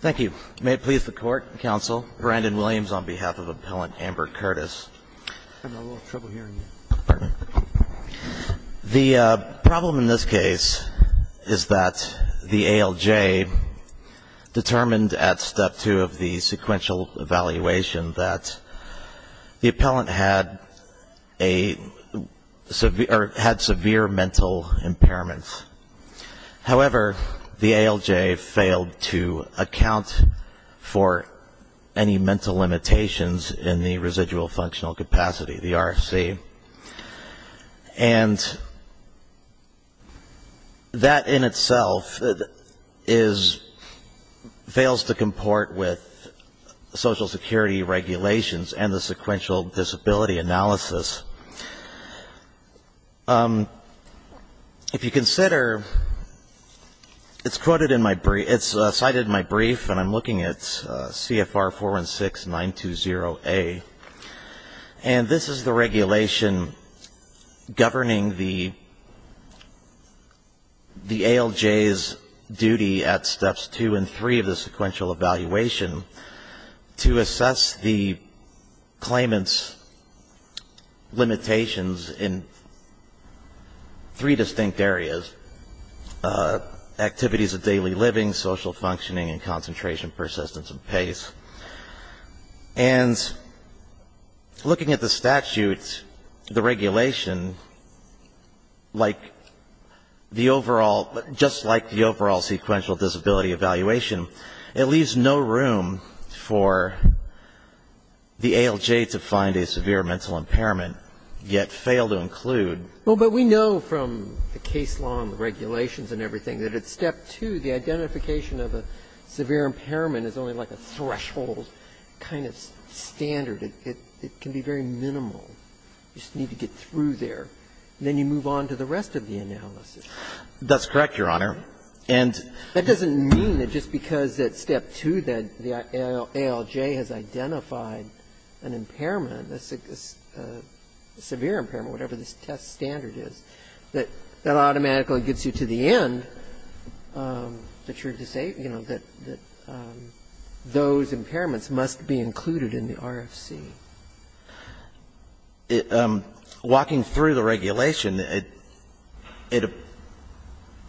Thank you. May it please the Court, Counsel, Brandon Williams on behalf of Appellant Amber Curtis. I'm having a little trouble hearing you. The problem in this case is that the ALJ determined at Step 2 of the sequential evaluation that the appellant had severe mental impairment. However, the ALJ failed to account for any mental limitations in the residual functional capacity, the RFC. And that in itself fails to comport with Social Security regulations and the sequential disability analysis. If you consider, it's cited in my brief, and I'm looking at CFR 416920A. And this is the regulation governing the ALJ's duty at Steps 2 and 3 of the sequential evaluation to assess the claimant's limitations in three distinct areas, activities of daily living, social functioning, and concentration, persistence, and pace. And looking at the statute, the regulation, like the overall, just like the overall sequential disability evaluation, it leaves no room for the ALJ to find a severe mental impairment, yet fail to include. Well, but we know from the case law and the regulations and everything that at Step 2, the identification of a severe impairment is only like a threshold kind of standard. It can be very minimal. You just need to get through there, and then you move on to the rest of the analysis. That's correct, Your Honor. And That doesn't mean that just because at Step 2 that the ALJ has identified an impairment, a severe impairment, whatever this test standard is, that that automatically gets you to the end that you're, you know, that those impairments must be included in the RFC. Walking through the regulation,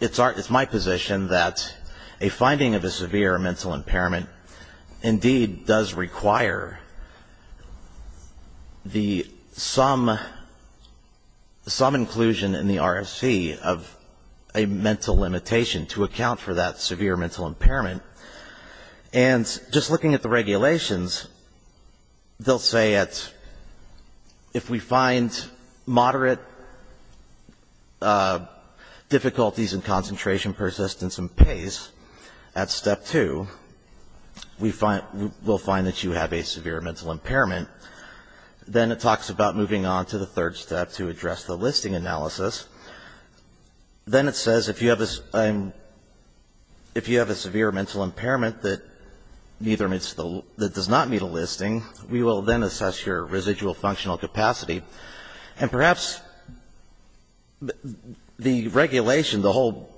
it's my position that a finding of a severe mental impairment indeed does require some inclusion in the RFC of a mental limitation to account for that severe mental impairment. And just looking at the regulations, they'll say that if we find moderate difficulties in concentration, persistence, and pace at Step 2, we'll find that you have a severe mental impairment. Then it talks about moving on to the third step to address the listing analysis. Then it says if you have a severe mental impairment that does not meet a listing, we will then assess your residual functional capacity. And perhaps the regulation, the whole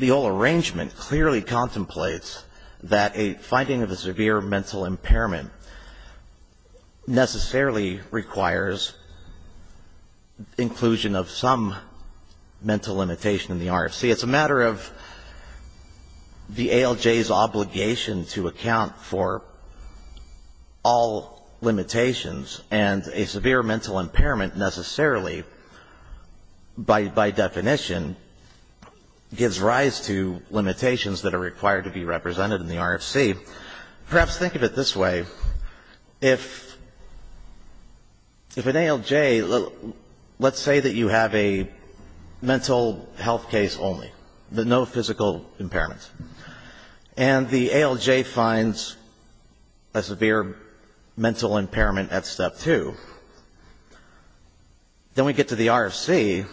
arrangement clearly contemplates that a finding of a severe mental impairment necessarily requires inclusion of some mental limitation in the RFC. It's a matter of the ALJ's obligation to account for all limitations, and a severe mental impairment necessarily, by definition, gives rise to limitations that are required to be represented in the RFC. Perhaps think of it this way. If an ALJ, let's say that you have a mental health case only, but no physical impairment, and the ALJ finds a severe mental impairment at Step 2, then we get to the RFC.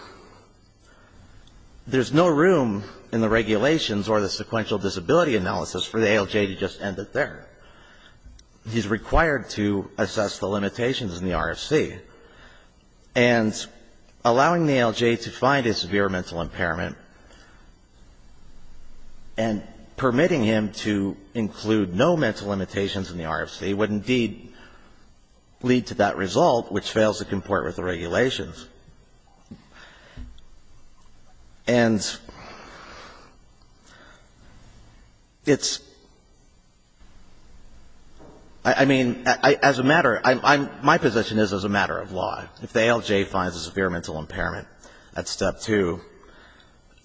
There's no room in the regulations or the sequential disability analysis for the ALJ to just end it there. He's required to assess the limitations in the RFC. And allowing the ALJ to find a severe mental impairment and permitting him to include no mental limitations in the RFC would indeed lead to that result, which fails to comport with the regulations. And it's, I mean, as a matter, my position is as a matter of law, if the ALJ finds a severe mental impairment at Step 2,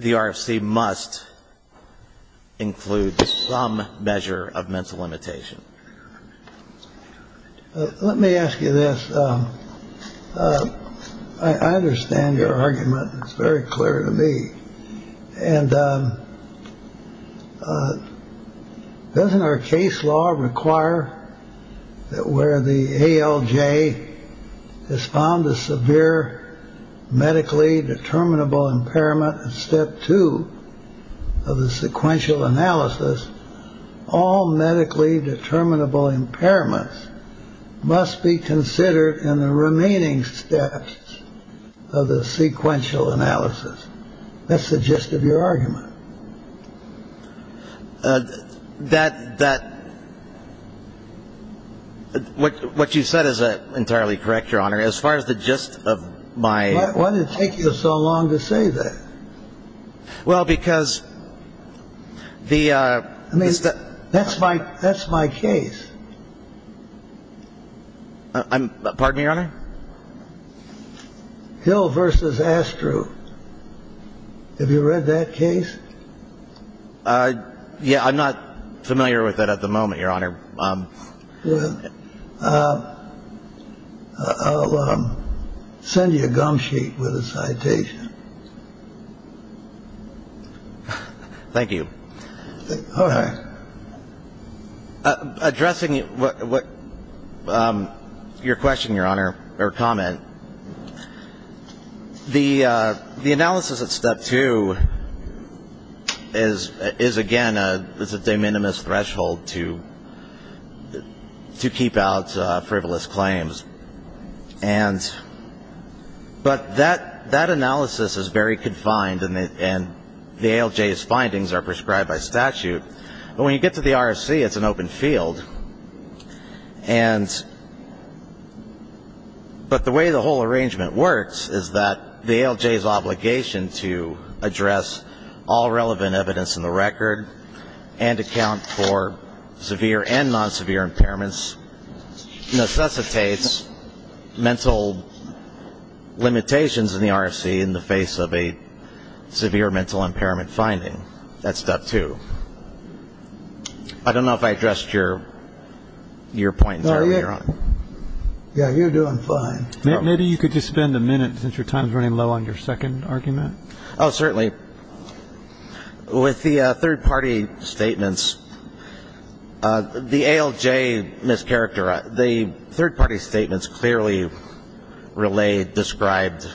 the RFC must include some measure of mental limitation. Let me ask you this. I understand your argument. It's very clear to me. And doesn't our case law require that where the ALJ is found, a severe medically determinable impairment at Step two of the sequential analysis, all medically determinable impairments must be considered in the remaining steps of the sequential analysis. That's the gist of your argument. That what you said is entirely correct, Your Honor. As far as the gist of my. Why did it take you so long to say that? Well, because the. I mean, that's my that's my case. Pardon me, Your Honor. Hill versus Astro. Have you read that case? Yeah, I'm not familiar with it at the moment, Your Honor. I'll send you a gum sheet with a citation. Thank you. Addressing what your question, Your Honor, or comment. The the analysis of step two is is, again, a it's a de minimis threshold to to keep out frivolous claims. And but that that analysis is very confined. And the ALJ findings are prescribed by statute. But when you get to the RFC, it's an open field. And but the way the whole arrangement works is that the ALJ is obligation to address all relevant evidence in the record and account for severe and non-severe impairments necessitates mental limitations in the RFC in the face of a severe mental impairment finding. That's step two. I don't know if I addressed your your point. Yeah, you're doing fine. Maybe you could just spend a minute since your time is running low on your second argument. Oh, certainly. With the third party statements, the ALJ mischaracter, the third party statements clearly relay described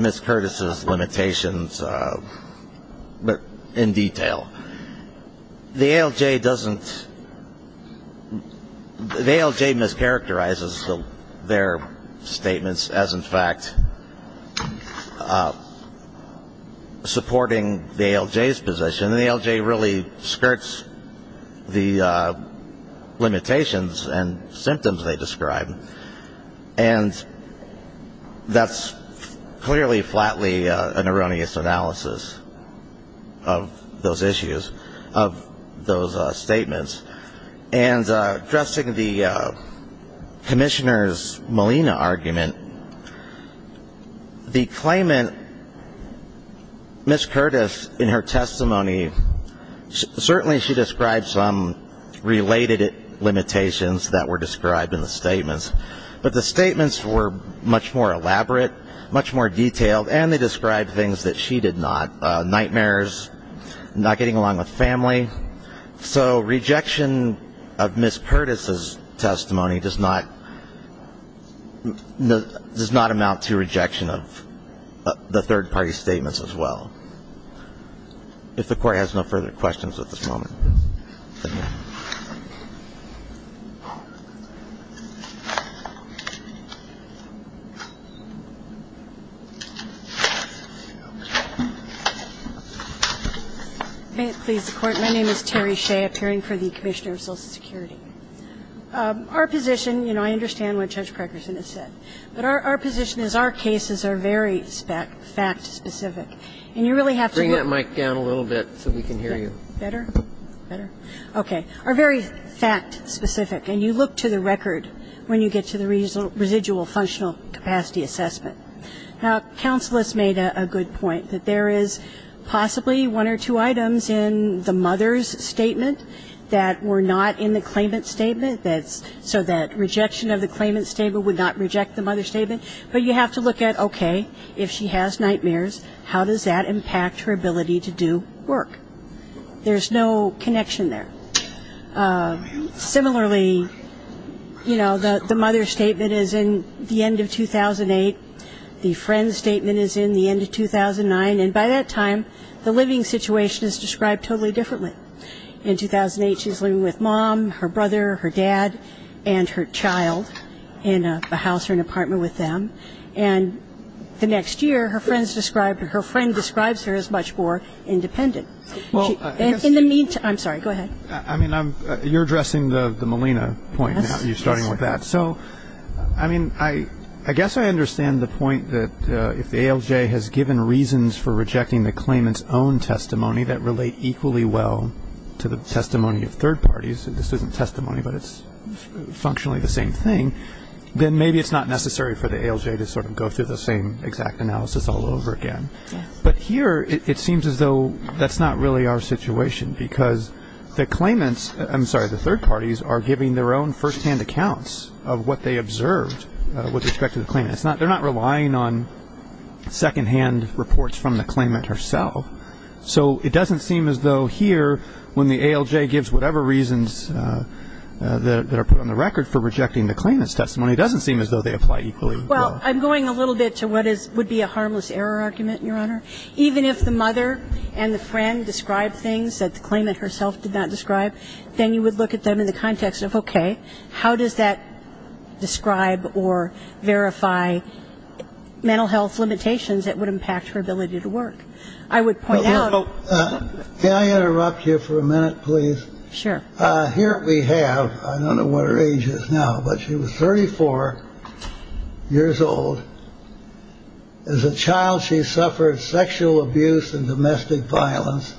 Miss Curtis's limitations. But in detail, the ALJ doesn't. The ALJ mischaracterizes their statements as, in fact, supporting the ALJ's position. And the ALJ really skirts the limitations and symptoms they describe. And that's clearly, flatly an erroneous analysis of those issues, of those statements. And addressing the Commissioner's Molina argument, the claimant, Miss Curtis, in her testimony, certainly she described some related limitations that were described in the statements. But the statements were much more elaborate, much more detailed, and they described things that she did not, nightmares, not getting along with family. So rejection of Miss Curtis's testimony does not amount to rejection of the third party statements as well. If the Court has no further questions at this moment. Ms. Shea. May it please the Court. My name is Terry Shea, appearing for the Commissioner of Social Security. Our position, you know, I understand what Judge Parkerson has said, but our position is our cases are very fact-specific. And you really have to look. Bring that mic down a little bit so we can hear you. Better? Better? Okay. Are very fact-specific. And you look to the record when you get to the residual functional capacity assessment. Now, counselors made a good point, that there is possibly one or two items in the mother's statement that were not in the claimant's statement. So that rejection of the claimant's statement would not reject the mother's statement. But you have to look at, okay, if she has nightmares, how does that impact her ability to do work? There's no connection there. Similarly, you know, the mother's statement is in the end of 2008. The friend's statement is in the end of 2009. And by that time, the living situation is described totally differently. In 2008, she's living with mom, her brother, her dad, and her child in a house or an apartment with them. And the next year, her friend describes her as much more independent. In the meantime, I'm sorry, go ahead. I mean, you're addressing the Molina point now. You're starting with that. So, I mean, I guess I understand the point that if the ALJ has given reasons for rejecting the claimant's own testimony that relate equally well to the testimony of third parties, this isn't testimony but it's functionally the same thing, then maybe it's not necessary for the ALJ to sort of go through the same exact analysis all over again. But here, it seems as though that's not really our situation because the claimants, I'm sorry, the third parties are giving their own firsthand accounts of what they observed with respect to the claimant. They're not relying on secondhand reports from the claimant herself. So it doesn't seem as though here, when the ALJ gives whatever reasons that are put on the record for rejecting the claimant's testimony, it doesn't seem as though they apply equally well. Well, I'm going a little bit to what would be a harmless error argument, Your Honor. Even if the mother and the friend described things that the claimant herself did not describe, then you would look at them in the context of, okay, how does that describe or verify mental health limitations that would impact her ability to work? I would point out. May I interrupt you for a minute, please? Sure. Here we have, I don't know what her age is now, but she was 34 years old. As a child, she suffered sexual abuse and domestic violence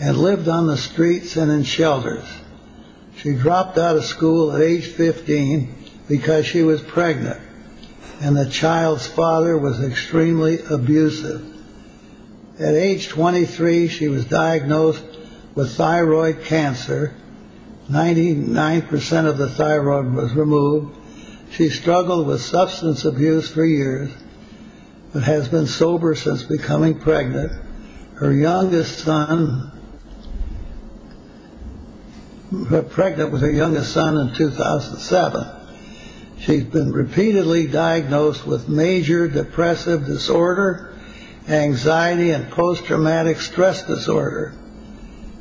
and lived on the streets and in shelters. She dropped out of school at age 15 because she was pregnant and the child's father was extremely abusive. At age 23, she was diagnosed with thyroid cancer. Ninety nine percent of the thyroid was removed. She struggled with substance abuse for years, but has been sober since becoming pregnant. Her youngest son. Pregnant with her youngest son in 2007, she's been repeatedly diagnosed with major depressive disorder, anxiety and post-traumatic stress disorder.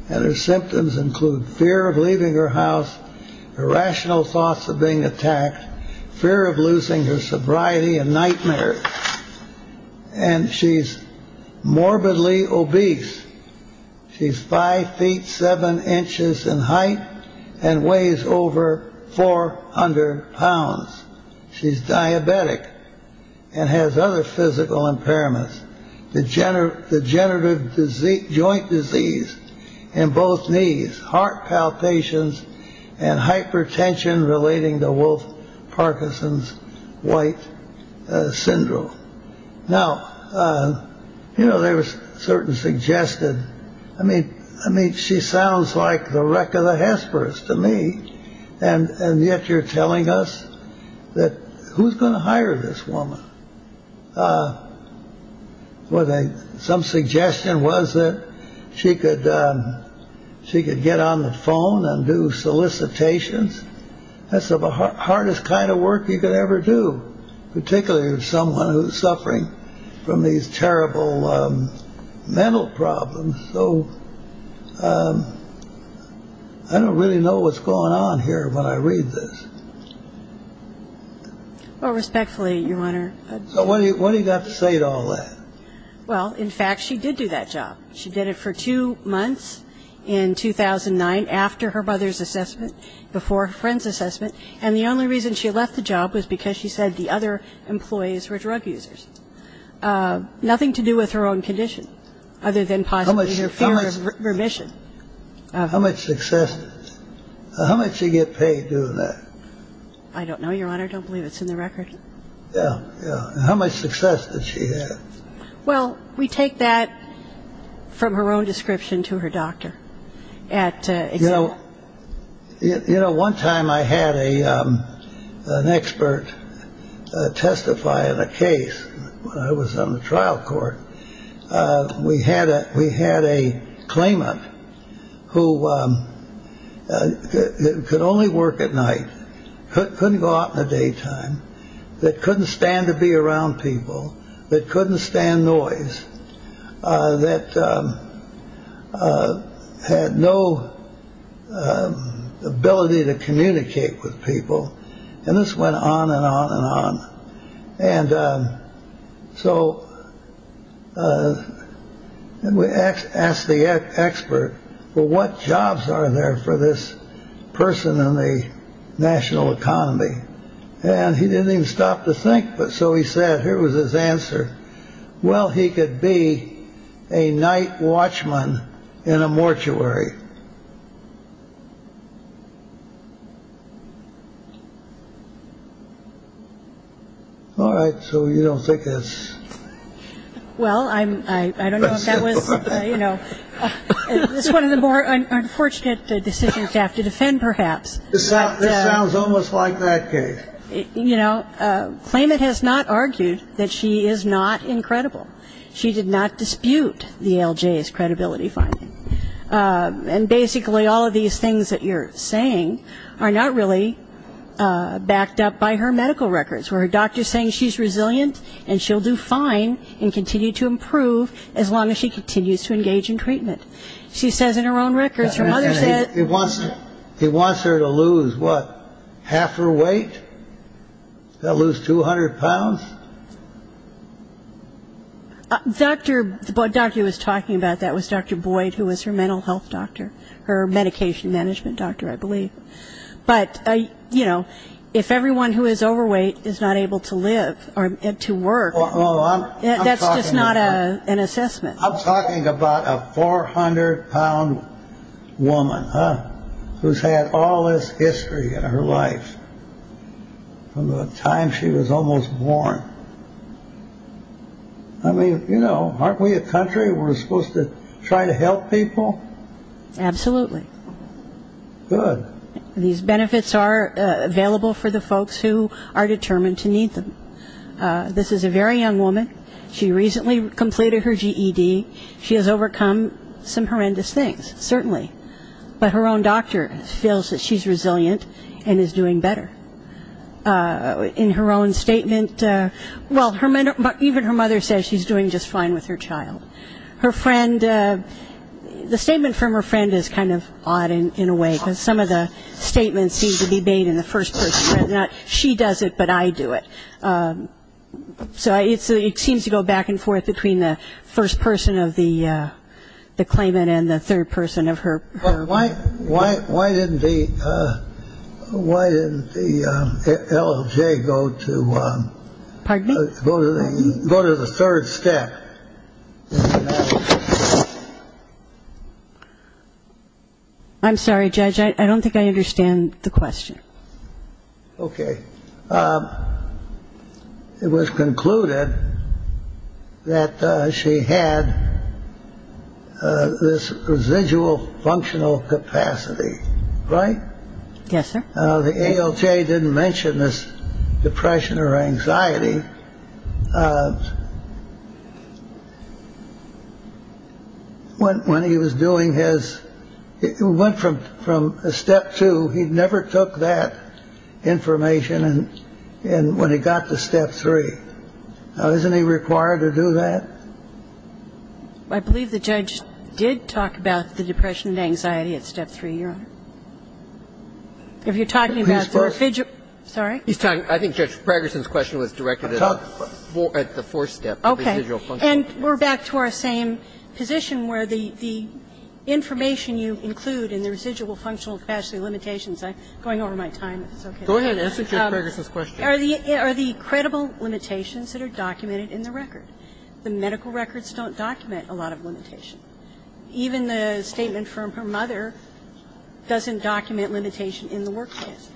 And her symptoms include fear of leaving her house, irrational thoughts of being attacked, fear of losing her sobriety and nightmares. And she's morbidly obese. She's five feet, seven inches in height and weighs over 400 pounds. She's diabetic and has other physical impairments. Degenerative disease, joint disease in both knees, heart palpations and hypertension relating to Wolf Parkinson's white syndrome. Now, you know, there was certain suggested. I mean, I mean, she sounds like the wreck of the Hesperus to me. And yet you're telling us that who's going to hire this woman? Well, some suggestion was that she could she could get on the phone and do solicitations. That's the hardest kind of work you could ever do, particularly with someone who's suffering from these terrible mental problems. So I don't really know what's going on here when I read this. Well, respectfully, Your Honor. So what do you got to say to all that? Well, in fact, she did do that job. She did it for two months in 2009 after her mother's assessment, before her friend's assessment. And the only reason she left the job was because she said the other employees were drug users. Nothing to do with her own condition other than possibly her fear of remission. How much success? How much did she get paid doing that? I don't know, Your Honor. I don't believe it's in the record. Yeah. How much success did she have? Well, we take that from her own description to her doctor. So, you know, one time I had a an expert testify in a case. I was on the trial court. We had a we had a claimant who could only work at night. Couldn't go out in the daytime. That couldn't stand to be around people that couldn't stand noise. That had no ability to communicate with people. And this went on and on and on. And so we asked the expert, well, what jobs are there for this person in the national economy? And he didn't even stop to think. But so he said, here was his answer. Well, he could be a night watchman in a mortuary. All right. So you don't think that's. Well, I'm I don't know if that was, you know, it's one of the more unfortunate decisions you have to defend, perhaps. This sounds almost like that case. You know, claimant has not argued that she is not incredible. She did not dispute the L.J.'s credibility finding. And basically all of these things that you're saying are not really backed up by her medical records, where her doctor is saying she's resilient and she'll do fine and continue to improve as long as she continues to engage in treatment. She says in her own records, her mother said it wasn't. He wants her to lose what? Half her weight. They'll lose 200 pounds. Doctor. Doctor was talking about that was Dr. Boyd, who was her mental health doctor, her medication management doctor, I believe. But, you know, if everyone who is overweight is not able to live or to work. That's just not an assessment. I'm talking about a 400 pound woman who's had all this history in her life. From the time she was almost born. I mean, you know, aren't we a country? We're supposed to try to help people. Absolutely. Good. These benefits are available for the folks who are determined to need them. This is a very young woman. She recently completed her GED. She has overcome some horrendous things, certainly. But her own doctor feels that she's resilient and is doing better. In her own statement, well, her mother, even her mother says she's doing just fine with her child. Her friend, the statement from her friend is kind of odd in a way because some of the statements seem to be made in the first person. Now, she does it, but I do it. So it seems to go back and forth between the first person of the claimant and the third person of her. Why didn't the LLJ go to the third step? I'm sorry, Judge, I don't think I understand the question. OK. It was concluded that she had this residual functional capacity. Yes, sir. The LLJ didn't mention this depression or anxiety. When he was doing his it went from from a step to he never took that information. And when he got to step three, isn't he required to do that? I believe the judge did talk about the depression and anxiety at step three, Your Honor. If you're talking about the residual. He's first. Sorry? He's talking. I think Judge Fragerson's question was directed at the fourth step. OK. And we're back to our same position where the information you include in the residual functional capacity limitations, I'm going over my time. Go ahead and answer Judge Fragerson's question. Are the credible limitations that are documented in the record? The medical records don't document a lot of limitation. Even the statement from her mother doesn't document limitation in the workplace.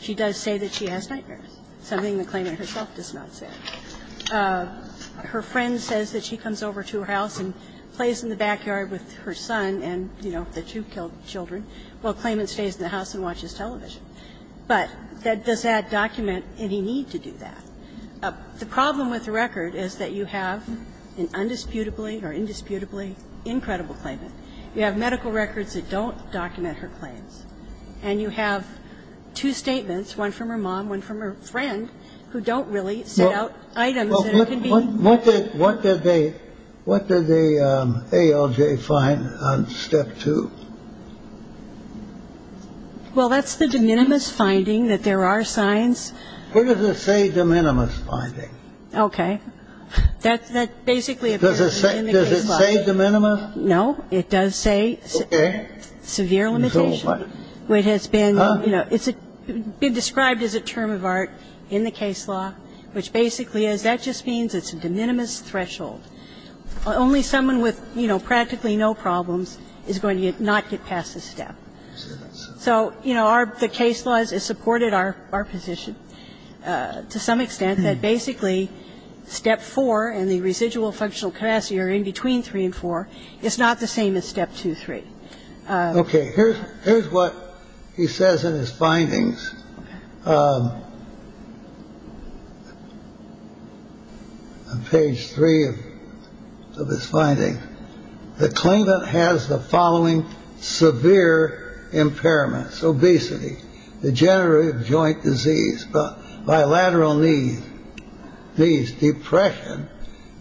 She does say that she has nightmares, something the claimant herself does not say. Her friend says that she comes over to her house and plays in the backyard with her son and, you know, the two killed children while the claimant stays in the house and watches television. But does that document any need to do that? The problem with the record is that you have an undisputably or indisputably incredible claimant. You have medical records that don't document her claims. And you have two statements, one from her mom, one from her friend, who don't really set out items that it could be. What did they ALJ find on step two? Well, that's the de minimis finding that there are signs. What does it say, de minimis finding? Okay. That basically appears in the case law. Does it say de minimis? No. It does say severe limitation. It's been described as a term of art in the case law, which basically is that just means it's a de minimis threshold. Only someone with, you know, practically no problems is going to not get past this step. So, you know, are the case laws is supported our our position to some extent that basically step four and the residual functional capacity are in between three and four. It's not the same as step two, three. Okay. Here's here's what he says in his findings. Page three of this finding. The claimant has the following severe impairments. Obesity, degenerative joint disease, bilateral needs, needs, depression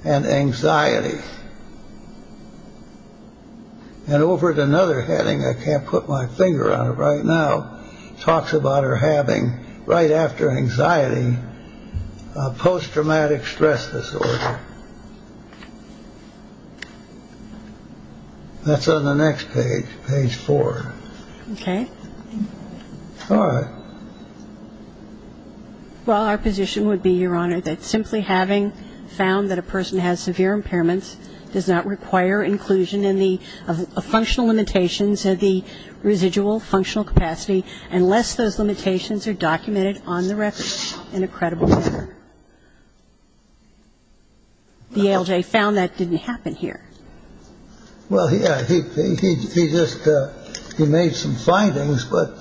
and anxiety. And over to another heading, I can't put my finger on it right now. Talks about her having right after anxiety, post-traumatic stress disorder. That's on the next page. Page four. Okay. All right. Well, our position would be, Your Honor, that simply having found that a person has severe impairments does not require inclusion in the functional limitations of the residual functional capacity unless those limitations are documented on the record in a credible manner. The ALJ found that didn't happen here. Well, yeah, I think he just he made some findings, but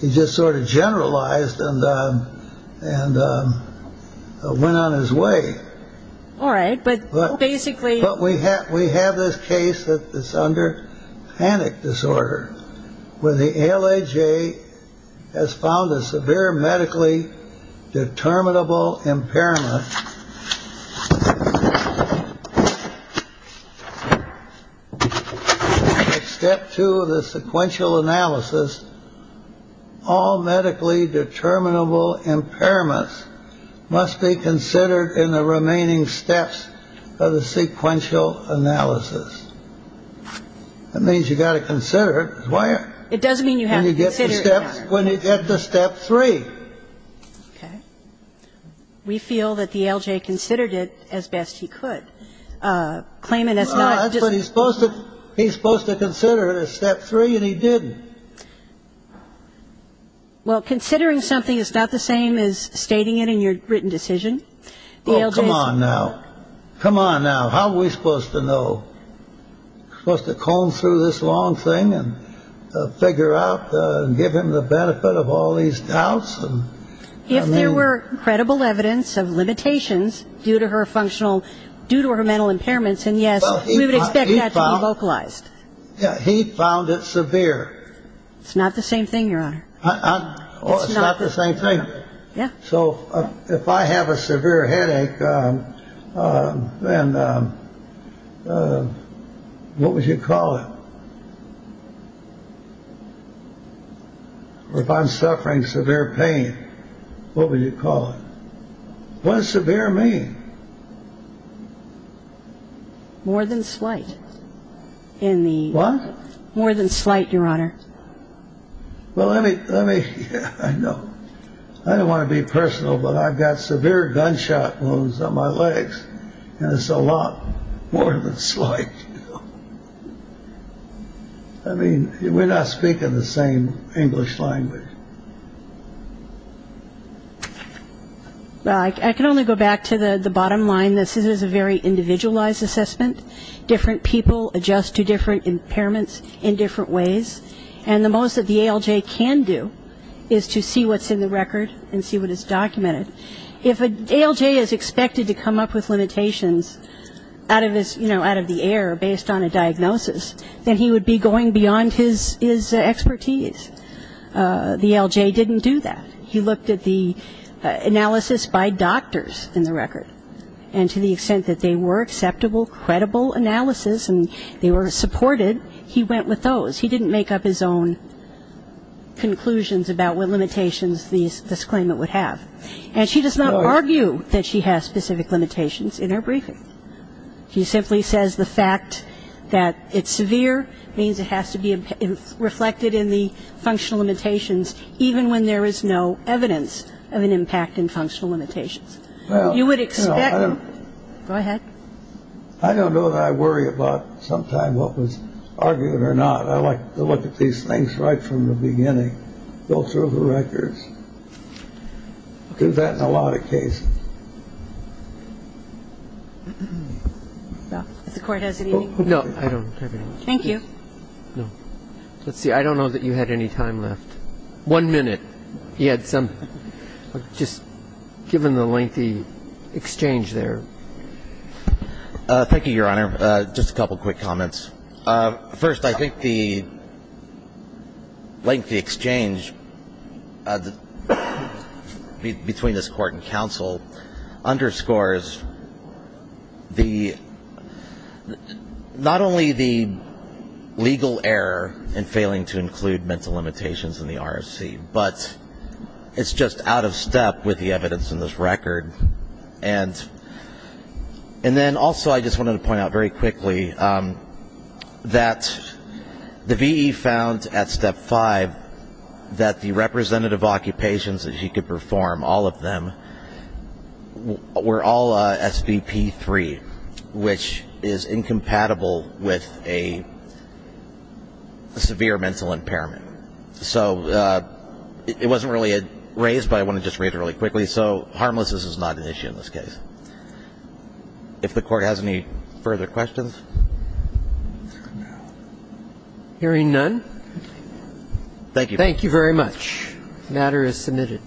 he just sort of generalized and and went on his way. All right. But basically what we have, we have this case that is under panic disorder. Well, the L.A.J. has found a severe medically determinable impairment. Step two of the sequential analysis. All medically determinable impairments must be considered in the remaining steps of the sequential analysis. That means you've got to consider why it doesn't mean you have to get the steps when you get to step three. Okay. We feel that the L.J. considered it as best he could. Claiming that's not what he's supposed to. He's supposed to consider it a step three and he did. Well, considering something is not the same as stating it in your written decision. Come on now. Come on now. How are we supposed to know? Supposed to comb through this long thing and figure out and give him the benefit of all these doubts. And if there were credible evidence of limitations due to her functional due to her mental impairments. And yes, we would expect that localized. Yeah. He found it severe. It's not the same thing. It's not the same thing. Yeah. So if I have a severe headache, then what would you call it? If I'm suffering severe pain, what would you call it? More than slight in the one more than slight, Your Honor. Well, let me let me know. I don't want to be personal, but I've got severe gunshot wounds on my legs. And it's a lot more than slight. I mean, we're not speaking the same English language. Well, I can only go back to the bottom line. This is a very individualized assessment. Different people adjust to different impairments in different ways. And the most that the ALJ can do is to see what's in the record and see what is documented. If an ALJ is expected to come up with limitations out of this, you know, out of the air based on a diagnosis, then he would be going beyond his expertise. The ALJ didn't do that. He looked at the analysis by doctors in the record. And to the extent that they were acceptable, credible analysis and they were supported, he went with those. He didn't make up his own conclusions about what limitations this claimant would have. And she does not argue that she has specific limitations in her briefing. She simply says the fact that it's severe means it has to be reflected in the functional limitations, even when there is no evidence of an impact in functional limitations. You would expect. Go ahead. I don't know that I worry about sometimes what was argued or not. You can't say that we had a problem in a record. Those are the records. We've had that in a lot of cases. Does the Court have anything? No, I don't have anything. Thank you. Let's see. I don't know that you had any time left. One minute. You had some. Just given the lengthy exchange there. Thank you, Your Honor. Just a couple quick comments. First, I think the lengthy exchange between this Court and counsel underscores not only the legal error in failing to include mental limitations in the RFC, but it's just out of step with the evidence in this record. And then also I just wanted to point out very quickly that the V.E. found at Step 5 that the representative occupations that he could perform, all of them, were all SVP 3, which is incompatible with a severe mental impairment. So it wasn't really raised, but I wanted to just read it really quickly. So harmlessness is not an issue in this case. If the Court has any further questions. Hearing none. Thank you. Thank you very much. The matter is submitted.